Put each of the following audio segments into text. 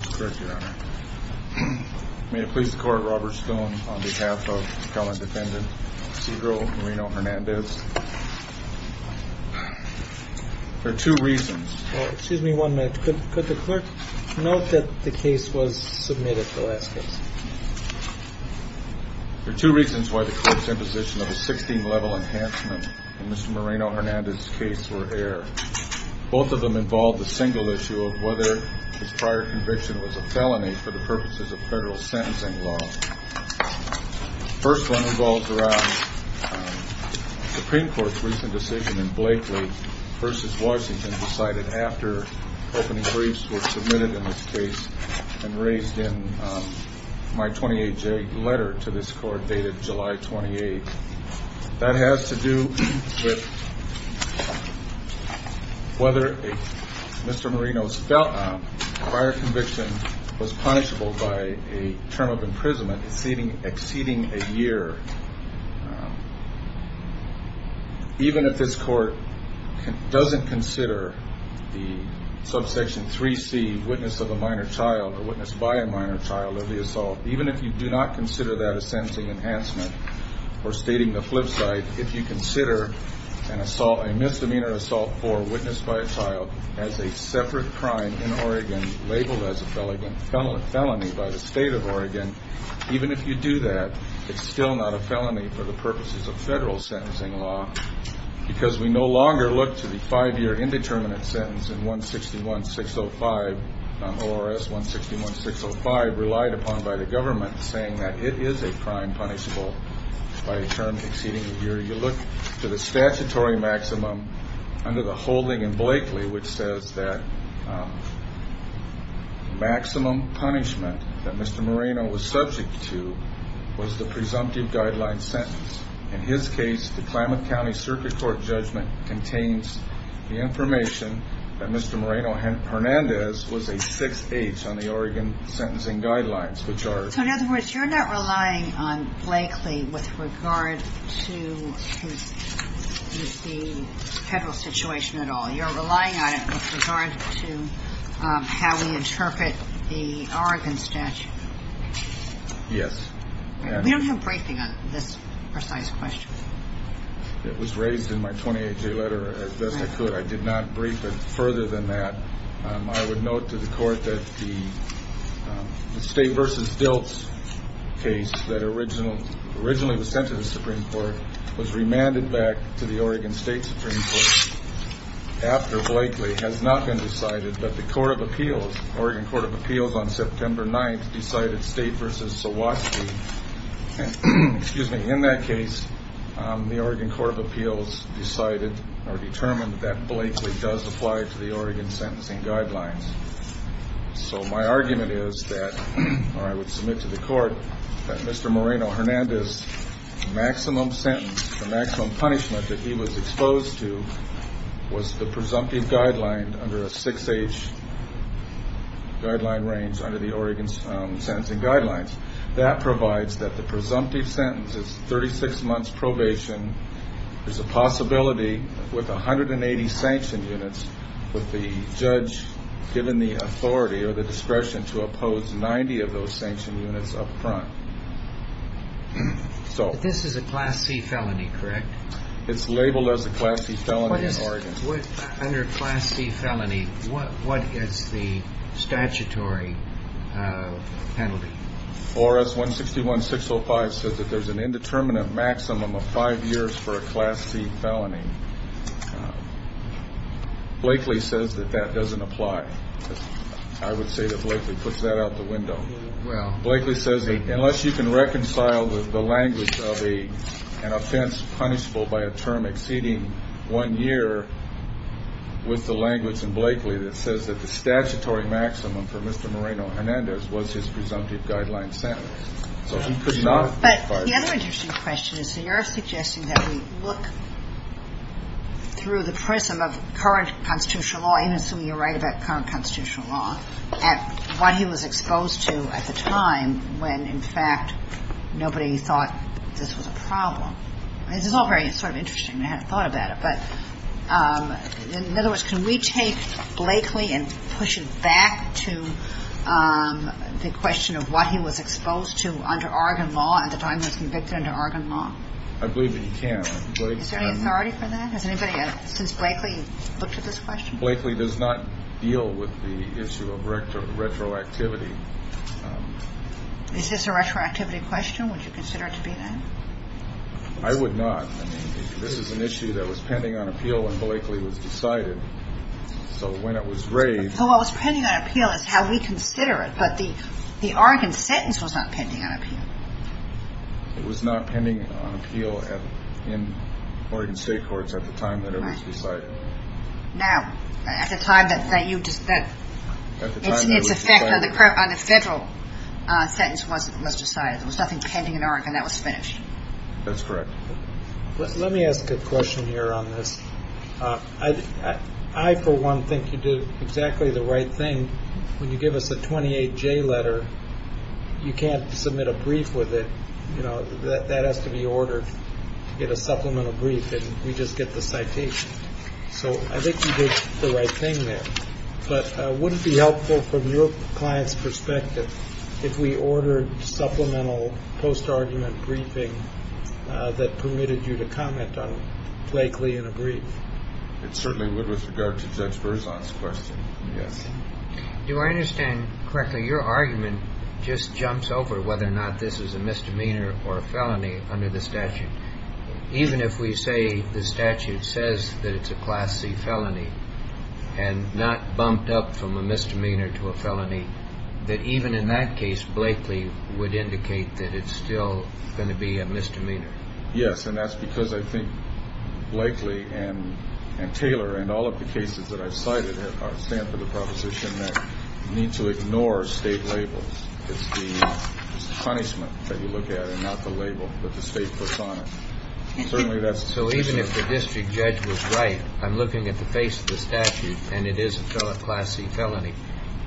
May it please the court, Robert Stone, on behalf of the felon defendant, Cedro Moreno-Hernandez. There are two reasons. Well, excuse me one minute. Could the clerk note that the case was submitted, the last case? There are two reasons why the court's imposition of a 16-level enhancement in Mr. Moreno-Hernandez's case were air. Both of them involved the single issue of whether his prior conviction was a felony for the purposes of federal sentencing law. The first one involves around the Supreme Court's recent decision in Blakely v. Washington, decided after opening briefs were submitted in this case and raised in my 28-J letter to this court dated July 28. That has to do with whether Mr. Moreno's prior conviction was punishable by a term of imprisonment exceeding a year. Even if this court doesn't consider the subsection 3C, witness of a minor child or witness by a minor child of the assault, even if you do not consider that a sentencing enhancement or stating the flip side, if you consider a misdemeanor assault for witness by a child as a separate crime in Oregon labeled as a felony by the state of Oregon, even if you do that, it's still not a felony for the purposes of federal sentencing law because we no longer look to the five-year indeterminate sentence in ORS 161605 relied upon by the government saying that it is a crime punishable by a term exceeding a year. You look to the statutory maximum under the holding in Blakely which says that maximum punishment that Mr. Moreno was subject to was the presumptive guideline sentence. In his case, the Klamath County Circuit Court judgment contains the information that Mr. Moreno Hernandez was a 6H on the Oregon sentencing guidelines. So in other words, you're not relying on Blakely with regard to the federal situation at all. You're relying on it with regard to how we interpret the Oregon statute. Yes. We don't have briefing on this precise question. It was raised in my 28-day letter as best I could. I did not brief it further than that. I would note to the court that the State v. Dilts case that originally was sent to the Supreme Court was remanded back to the Oregon State Supreme Court after Blakely has not been decided, but the Oregon Court of Appeals on September 9th decided State v. Sawatsky. In that case, the Oregon Court of Appeals determined that Blakely does apply to the Oregon sentencing guidelines. So my argument is that, or I would submit to the court, that Mr. Moreno Hernandez's maximum sentence, the maximum punishment that he was exposed to, was the presumptive guideline under a 6H guideline range under the Oregon sentencing guidelines. That provides that the presumptive sentence is 36 months probation. There's a possibility with 180 sanction units with the judge giving the authority or the discretion But this is a Class C felony, correct? It's labeled as a Class C felony in Oregon. Under Class C felony, what is the statutory penalty? ORS 161-605 says that there's an indeterminate maximum of five years for a Class C felony. Blakely says that that doesn't apply. Blakely says that unless you can reconcile with the language of an offense punishable by a term exceeding one year, with the language in Blakely that says that the statutory maximum for Mr. Moreno Hernandez was his presumptive guideline sentence. So he could not apply that. But the other interesting question is that you're suggesting that we look through the prism of current constitutional law, I assume you're right about current constitutional law, at what he was exposed to at the time when, in fact, nobody thought this was a problem. This is all very sort of interesting. I hadn't thought about it. But in other words, can we take Blakely and push it back to the question of what he was exposed to under Oregon law at the time he was convicted under Oregon law? I believe that you can. Is there any authority for that? Has anybody since Blakely looked at this question? Blakely does not deal with the issue of retroactivity. Is this a retroactivity question? Would you consider it to be that? I would not. I mean, this is an issue that was pending on appeal when Blakely was decided. So when it was raised. So what was pending on appeal is how we consider it. But the Oregon sentence was not pending on appeal. It was not pending on appeal in Oregon state courts at the time that it was decided. Now, at the time that you just said it's a federal sentence was decided. There was nothing pending in Oregon. That was finished. That's correct. Let me ask a question here on this. I, for one, think you did exactly the right thing. When you give us a 28 J letter, you can't submit a brief with it. That has to be ordered to get a supplemental brief. And we just get the citation. So I think you did the right thing there. But would it be helpful from your client's perspective if we ordered supplemental post-argument briefing that permitted you to comment on Blakely in a brief? It certainly would with regard to Judge Berzon's question. Yes. Do I understand correctly? Your argument just jumps over whether or not this is a misdemeanor or a felony under the statute. Even if we say the statute says that it's a Class C felony and not bumped up from a misdemeanor to a felony, that even in that case, Blakely would indicate that it's still going to be a misdemeanor. Yes. And that's because I think Blakely and Taylor and all of the cases that I've cited stand for the proposition that you need to ignore state labels. It's the punishment that you look at and not the label that the state puts on it. So even if the district judge was right, I'm looking at the face of the statute, and it is a Class C felony.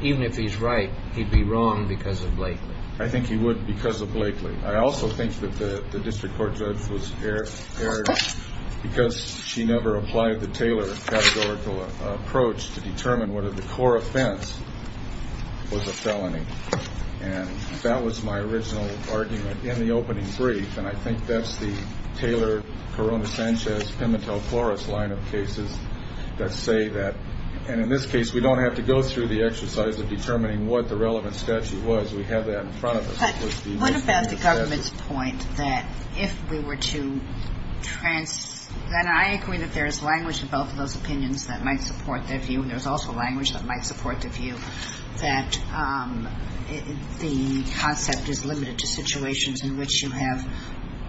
Even if he's right, he'd be wrong because of Blakely. I think he would because of Blakely. I also think that the district court judge was erred because she never applied the Taylor categorical approach to determine whether the core offense was a felony. And that was my original argument in the opening brief, and I think that's the Taylor-Corona-Sanchez-Pimentel-Flores line of cases that say that. And in this case, we don't have to go through the exercise of determining what the relevant statute was. We have that in front of us. But what about the government's point that if we were to – and I agree that there is language in both of those opinions that might support their view, and there's also language that might support the view that the concept is limited to situations in which you have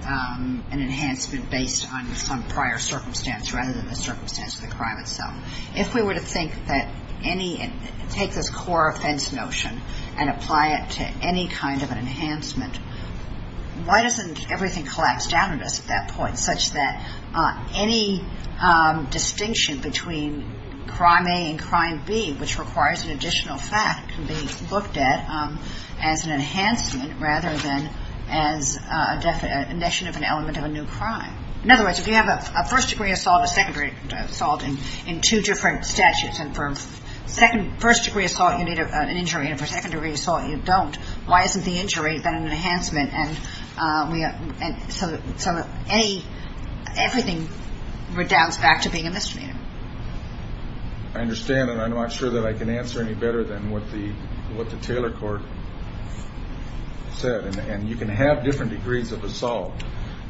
an enhancement based on prior circumstance rather than the circumstance of the crime itself. If we were to think that any – take this core offense notion and apply it to any kind of an enhancement, why doesn't everything collapse down on us at that point such that any distinction between crime A and crime B, which requires an additional fact, can be looked at as an enhancement rather than as a definition of an element of a new crime? In other words, if you have a first-degree assault and a second-degree assault in two different statutes, and for first-degree assault, you need an injury, and for second-degree assault, you don't, why isn't the injury then an enhancement so that everything redounds back to being a misdemeanor? I understand, and I'm not sure that I can answer any better than what the Taylor court said. And you can have different degrees of assault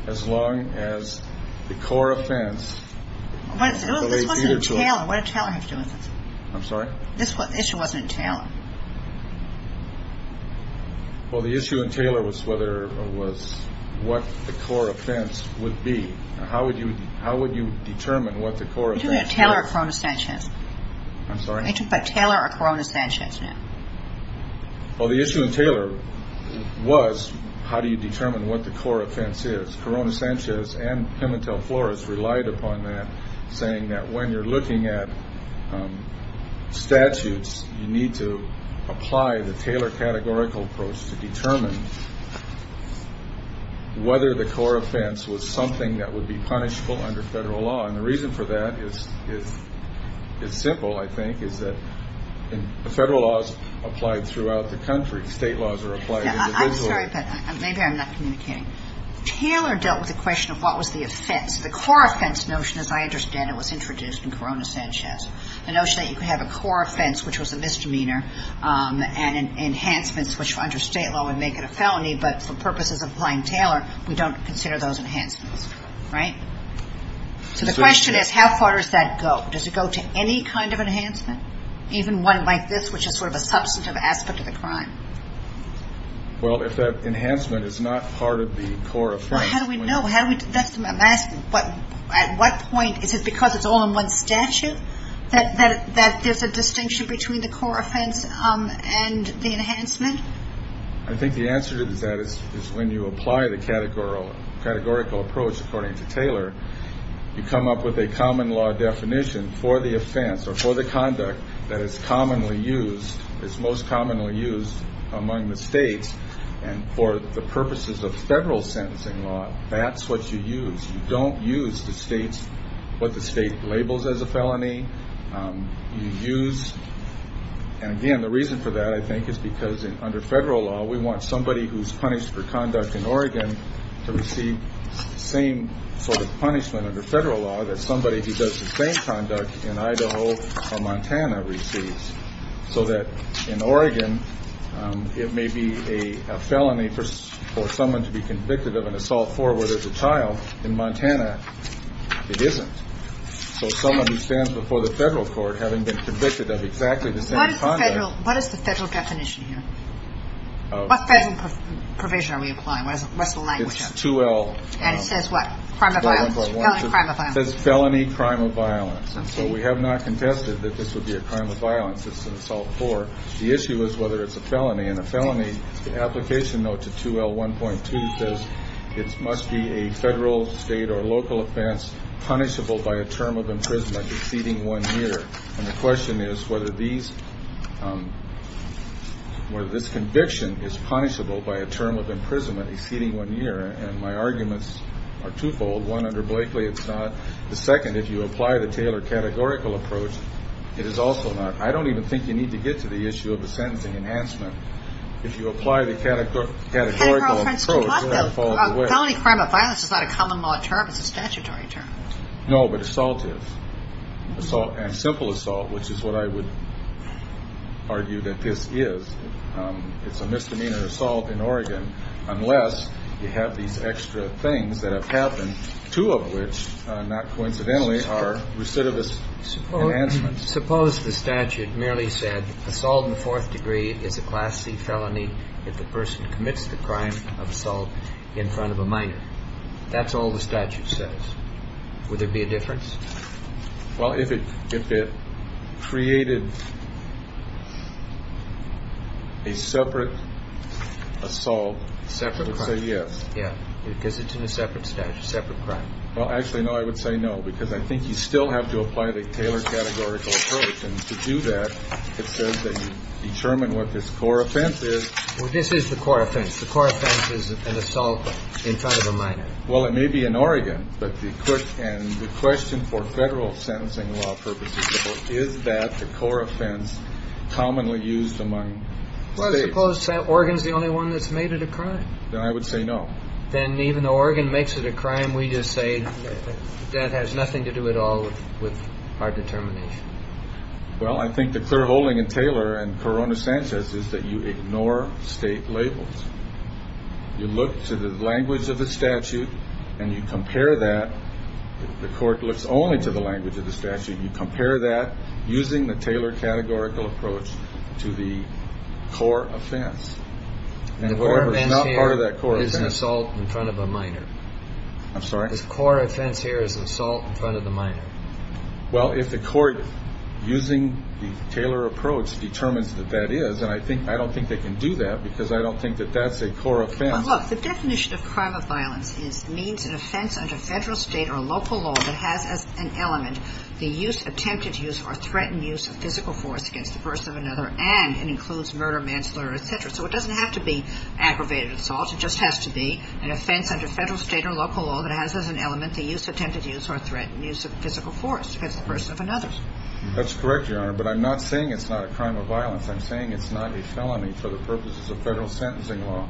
as long as the core offense – This wasn't in Taylor. What did Taylor have to do with this? I'm sorry? This issue wasn't in Taylor. Well, the issue in Taylor was whether – was what the core offense would be. How would you determine what the core offense would be? Are you talking about Taylor or Corona-Sanchez? I'm sorry? Are you talking about Taylor or Corona-Sanchez now? Well, the issue in Taylor was how do you determine what the core offense is. Corona-Sanchez and Pimentel-Flores relied upon that, saying that when you're looking at statutes, you need to apply the Taylor categorical approach to determine whether the core offense was something that would be punishable under federal law. And the reason for that is simple, I think, is that federal law is applied throughout the country. State laws are applied individually. I'm sorry, but maybe I'm not communicating. Taylor dealt with the question of what was the offense. The core offense notion, as I understand it, was introduced in Corona-Sanchez. The notion that you could have a core offense, which was a misdemeanor, and enhancements, which under state law would make it a felony, but for purposes of applying Taylor, we don't consider those enhancements, right? So the question is, how far does that go? Does it go to any kind of enhancement, even one like this, which is sort of a substantive aspect of the crime? Well, if that enhancement is not part of the core offense. Well, how do we know? I'm asking, at what point is it because it's all in one statute that there's a distinction between the core offense and the enhancement? I think the answer to that is when you apply the categorical approach, according to Taylor, you come up with a common law definition for the offense or for the conduct that is commonly used. It's most commonly used among the states, and for the purposes of federal sentencing law, that's what you use. You don't use what the state labels as a felony. You use, and again, the reason for that, I think, is because under federal law, we want somebody who's punished for conduct in Oregon to receive the same sort of punishment under federal law that somebody who does the same conduct in Idaho or Montana receives, so that in Oregon, it may be a felony for someone to be convicted of an assault forward as a child. In Montana, it isn't. So someone who stands before the federal court having been convicted of exactly the same conduct. What is the federal definition here? What federal provision are we applying? What's the language of it? It's 2L. And it says what? Crime of violence. Felony, crime of violence. It says felony, crime of violence. Okay. And so we have not contested that this would be a crime of violence. It's an assault forward. The issue is whether it's a felony, and a felony application note to 2L1.2 says it must be a federal, state, or local offense punishable by a term of imprisonment exceeding one year. And the question is whether this conviction is punishable by a term of imprisonment exceeding one year. And my arguments are twofold. One, under Blakely, it's not. The second, if you apply the Taylor categorical approach, it is also not. I don't even think you need to get to the issue of the sentencing enhancement. If you apply the categorical approach, you're not falling away. Felony, crime of violence is not a common law term. It's a statutory term. No, but assault is. And simple assault, which is what I would argue that this is. It's a misdemeanor assault in Oregon unless you have these extra things that have happened, two of which, not coincidentally, are recidivist enhancements. Suppose the statute merely said assault in the fourth degree is a Class C felony if the person commits the crime of assault in front of a minor. That's all the statute says. Would there be a difference? Well, if it created a separate assault, I would say yes. Yeah, because it's in a separate statute, separate crime. Well, actually, no. I would say no, because I think you still have to apply the Taylor categorical approach. And to do that, it says that you determine what this core offense is. Well, this is the core offense. The core offense is an assault in front of a minor. Well, it may be in Oregon. But the question for federal sentencing law purposes is that the core offense commonly used among states. Well, suppose Oregon's the only one that's made it a crime. Then I would say no. Then even though Oregon makes it a crime, we just say that has nothing to do at all with our determination. Well, I think the clear holding in Taylor and Corona Sanchez is that you ignore state labels. You look to the language of the statute and you compare that. The court looks only to the language of the statute. You compare that using the Taylor categorical approach to the core offense. The core offense here is an assault in front of a minor. I'm sorry? The core offense here is an assault in front of a minor. Well, if the court, using the Taylor approach, determines that that is, and I don't think they can do that because I don't think that that's a core offense. Well, look, the definition of crime of violence is means an offense under federal, state, or local law that has as an element the use, attempted use, or threatened use of physical force against the person or another, and it includes murder, manslaughter, etc. So it doesn't have to be aggravated assault. It just has to be an offense under federal, state, or local law that has as an element the use, attempted use, or threatened use of physical force against the person or another. That's correct, Your Honor, but I'm not saying it's not a crime of violence. I'm saying it's not a felony for the purposes of federal sentencing law.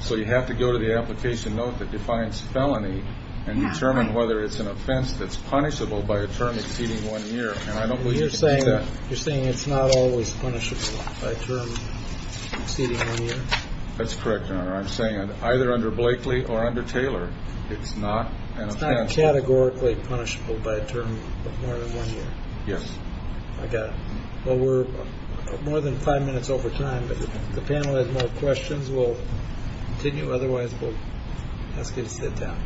So you have to go to the application note that defines felony and determine whether it's an offense that's punishable by a term exceeding one year, and I don't believe you can do that. You're saying it's not always punishable by a term exceeding one year? That's correct, Your Honor. I'm saying either under Blakely or under Taylor, it's not an offense. It's not categorically punishable by a term of more than one year? Yes. I got it. Well, we're more than five minutes over time, but if the panel has more questions, we'll continue. Otherwise, we'll ask you to sit down.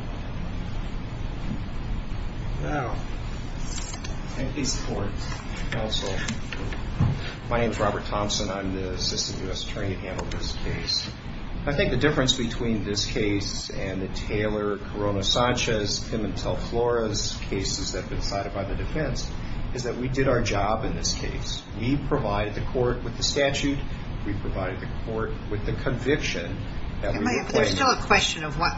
Now, thank you for your support, counsel. My name is Robert Thompson. I'm the assistant U.S. attorney handling this case. I think the difference between this case and the Taylor, Corona-Sanchez, Pimentel-Flores cases that have been cited by the defense is that we did our job in this case. We provided the court with the statute. We provided the court with the conviction. There's still a question of what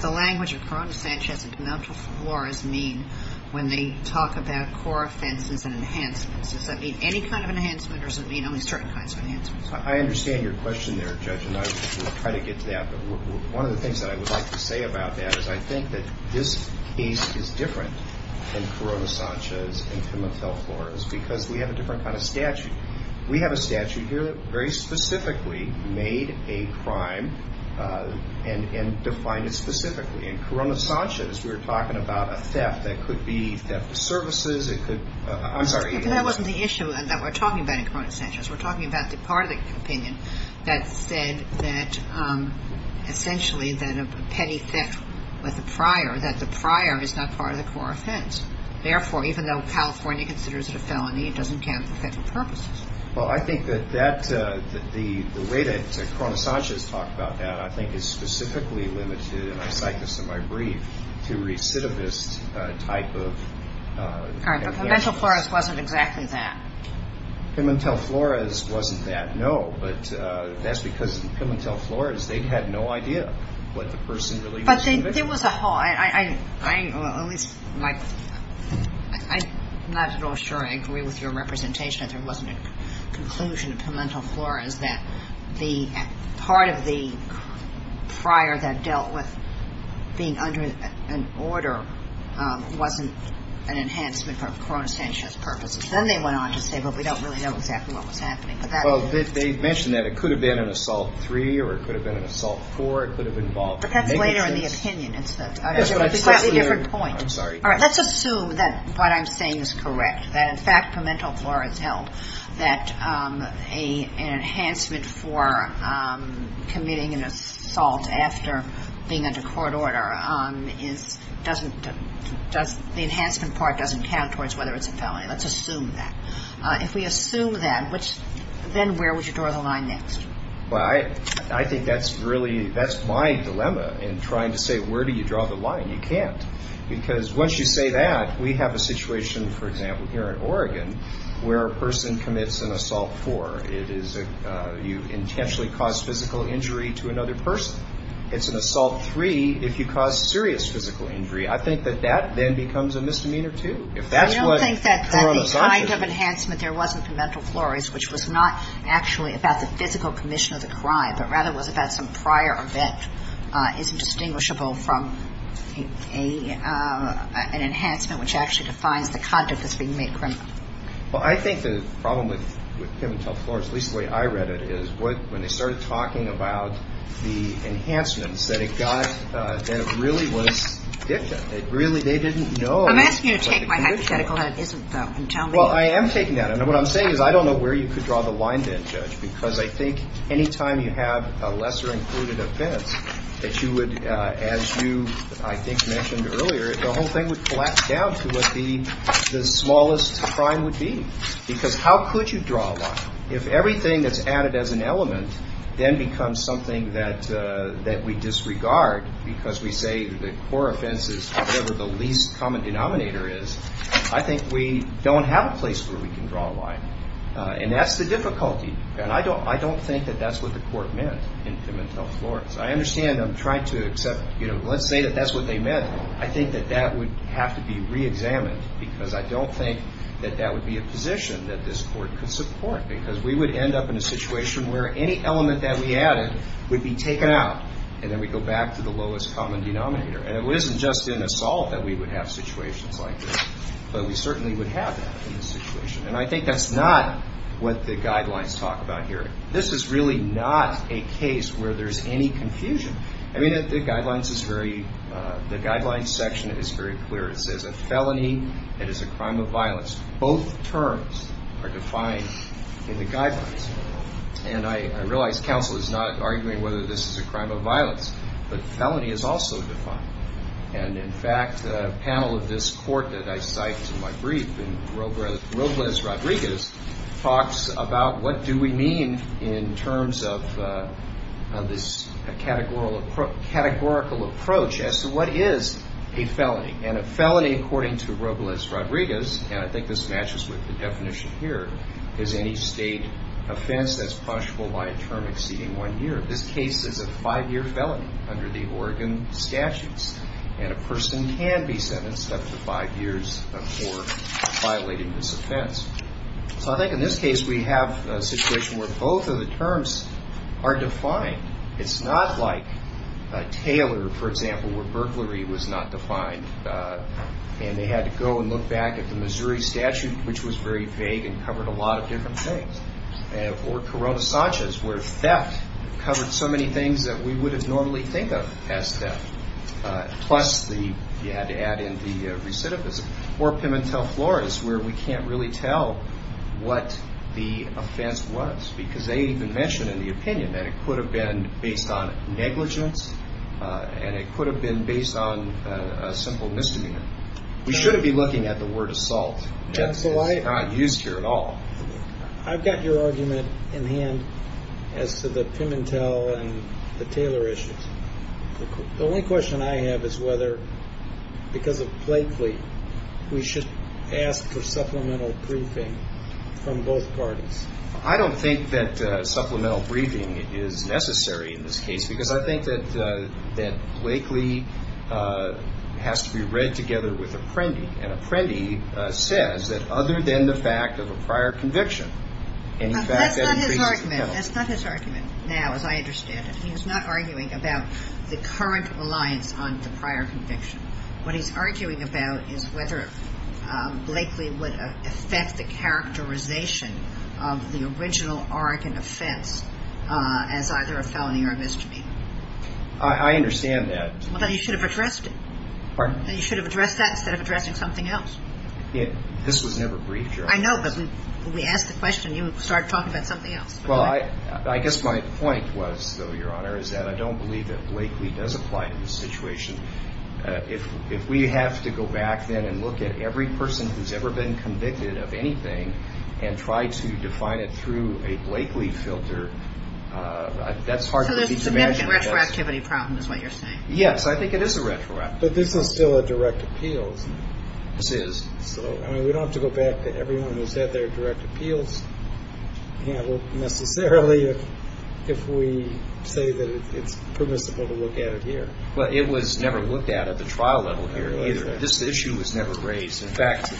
the language of Corona-Sanchez and Pimentel-Flores mean when they talk about core offenses and enhancements. Does that mean any kind of enhancement or does it mean only certain kinds of enhancements? I understand your question there, Judge, and I will try to get to that. But one of the things that I would like to say about that is I think that this case is different than Corona-Sanchez and Pimentel-Flores because we have a different kind of statute. We have a statute here that very specifically made a crime and defined it specifically. In Corona-Sanchez, we were talking about a theft that could be theft of services. I'm sorry. That wasn't the issue that we're talking about in Corona-Sanchez. We're talking about the part of the opinion that said that essentially that a petty theft with a prior, that the prior is not part of the core offense. Therefore, even though California considers it a felony, it doesn't count for federal purposes. Well, I think that the way that Corona-Sanchez talked about that I think is specifically limited, and I cite this in my brief, to recidivist type of... All right, but Pimentel-Flores wasn't exactly that. Pimentel-Flores wasn't that, no, but that's because Pimentel-Flores, they had no idea what the person really was committing. I'm not at all sure I agree with your representation that there wasn't a conclusion in Pimentel-Flores that part of the prior that dealt with being under an order wasn't an enhancement for Corona-Sanchez purposes. Then they went on to say, well, we don't really know exactly what was happening. Well, they mentioned that it could have been an assault three or it could have been an assault four. But that's later in the opinion. It's a different point. I'm sorry. All right, let's assume that what I'm saying is correct, that in fact Pimentel-Flores held that an enhancement for committing an assault after being under court order doesn't, the enhancement part doesn't count towards whether it's a felony. Let's assume that. If we assume that, then where would you draw the line next? Well, I think that's really, that's my dilemma in trying to say where do you draw the line? You can't. Because once you say that, we have a situation, for example, here in Oregon where a person commits an assault four. It is you intentionally cause physical injury to another person. It's an assault three if you cause serious physical injury. I think that that then becomes a misdemeanor too. I don't think that the kind of enhancement there wasn't in Pimentel-Flores, which was not actually about the physical commission of the crime, but rather was about some prior event isn't distinguishable from an enhancement which actually defines the conduct as being made criminal. Well, I think the problem with Pimentel-Flores, at least the way I read it, is when they started talking about the enhancements, that it got, that it really was dicta. It really, they didn't know. Well, I'm asking you to take my hypothetical and tell me. Well, I am taking that. And what I'm saying is I don't know where you could draw the line then, Judge, because I think any time you have a lesser included offense that you would, as you I think mentioned earlier, the whole thing would collapse down to what the smallest crime would be. Because how could you draw a line if everything that's added as an element then becomes something that we disregard because we say the core offense is whatever the least common denominator is? I think we don't have a place where we can draw a line. And that's the difficulty. And I don't think that that's what the court meant in Pimentel-Flores. I understand. I'm trying to accept, you know, let's say that that's what they meant. I think that that would have to be reexamined because I don't think that that would be a position that this court could support because we would end up in a situation where any element that we added would be taken out and then we go back to the lowest common denominator. And it isn't just in assault that we would have situations like this, but we certainly would have that in this situation. And I think that's not what the guidelines talk about here. This is really not a case where there's any confusion. I mean, the guidelines section is very clear. It says a felony, it is a crime of violence. Both terms are defined in the guidelines. And I realize counsel is not arguing whether this is a crime of violence, but felony is also defined. And, in fact, a panel of this court that I cited in my brief, Robles Rodriguez, talks about what do we mean in terms of this categorical approach as to what is a felony. And a felony, according to Robles Rodriguez, and I think this matches with the definition here, is any state offense that's punishable by a term exceeding one year. This case is a five-year felony under the Oregon statutes, and a person can be sentenced up to five years before violating this offense. So I think in this case we have a situation where both of the terms are defined. It's not like Taylor, for example, where burglary was not defined and they had to go and look back at the Missouri statute, which was very vague and covered a lot of different things. Or Corona Sanchez, where theft covered so many things that we wouldn't normally think of as theft, plus you had to add in the recidivism. Or Pimentel Flores, where we can't really tell what the offense was, because they even mention in the opinion that it could have been based on negligence and it could have been based on a simple misdemeanor. We shouldn't be looking at the word assault. That's not used here at all. I've got your argument in hand as to the Pimentel and the Taylor issues. The only question I have is whether, because of Blakely, we should ask for supplemental briefing from both parties. I don't think that supplemental briefing is necessary in this case, because I think that Blakely has to be read together with Apprendi. And Apprendi says that other than the fact of a prior conviction, any fact that increases Pimentel. That's not his argument. That's not his argument now, as I understand it. He's not arguing about the current reliance on the prior conviction. What he's arguing about is whether Blakely would affect the characterization of the original Oregon offense as either a felony or a misdemeanor. I understand that. Well, then you should have addressed it. Pardon? You should have addressed that instead of addressing something else. This was never briefed, Your Honor. I know, but we asked the question and you started talking about something else. Well, I guess my point was, though, Your Honor, is that I don't believe that Blakely does apply to this situation. If we have to go back then and look at every person who's ever been convicted of anything and try to define it through a Blakely filter, that's hard to do. So there's a significant retroactivity problem is what you're saying. Yes, I think it is a retroactivity problem. But this is still a direct appeals. This is. So, I mean, we don't have to go back to everyone who's had their direct appeals. Yeah, well, necessarily if we say that it's permissible to look at it here. Well, it was never looked at at the trial level here either. This issue was never raised. In fact,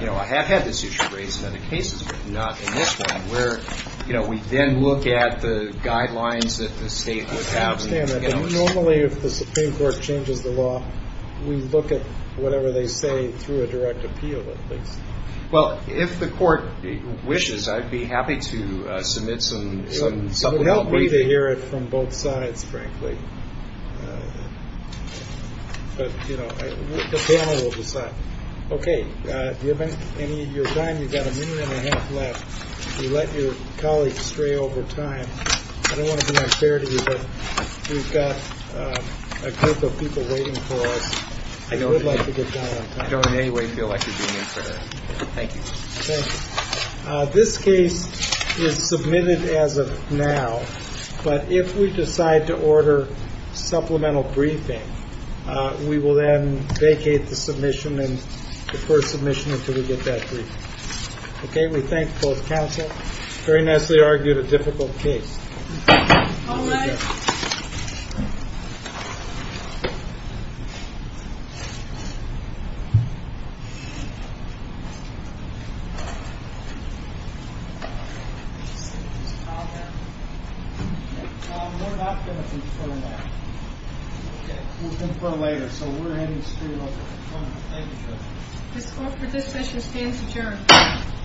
you know, I have had this issue raised in other cases, but not in this one, where, you know, we then look at the guidelines that the state would have. I understand that. Normally, if the Supreme Court changes the law, we look at whatever they say through a direct appeal, at least. Well, if the court wishes, I'd be happy to submit some. So help me to hear it from both sides, frankly. But, you know, the panel will decide. Okay. Given any of your time, you've got a minute and a half left. You let your colleagues stray over time. I don't want to be unfair to you, but we've got a group of people waiting for us. I don't in any way feel like you're being unfair. Thank you. This case is submitted as of now. But if we decide to order supplemental briefing, we will then vacate the submission and defer submission until we get that brief. Okay. We thank both counsel. Very nicely argued a difficult case. All right. We're not going to defer now. We'll defer later. So we're heading straight over. Thank you, Judge. The score for this session stands adjourned. Thank you. Thank you. Thank you.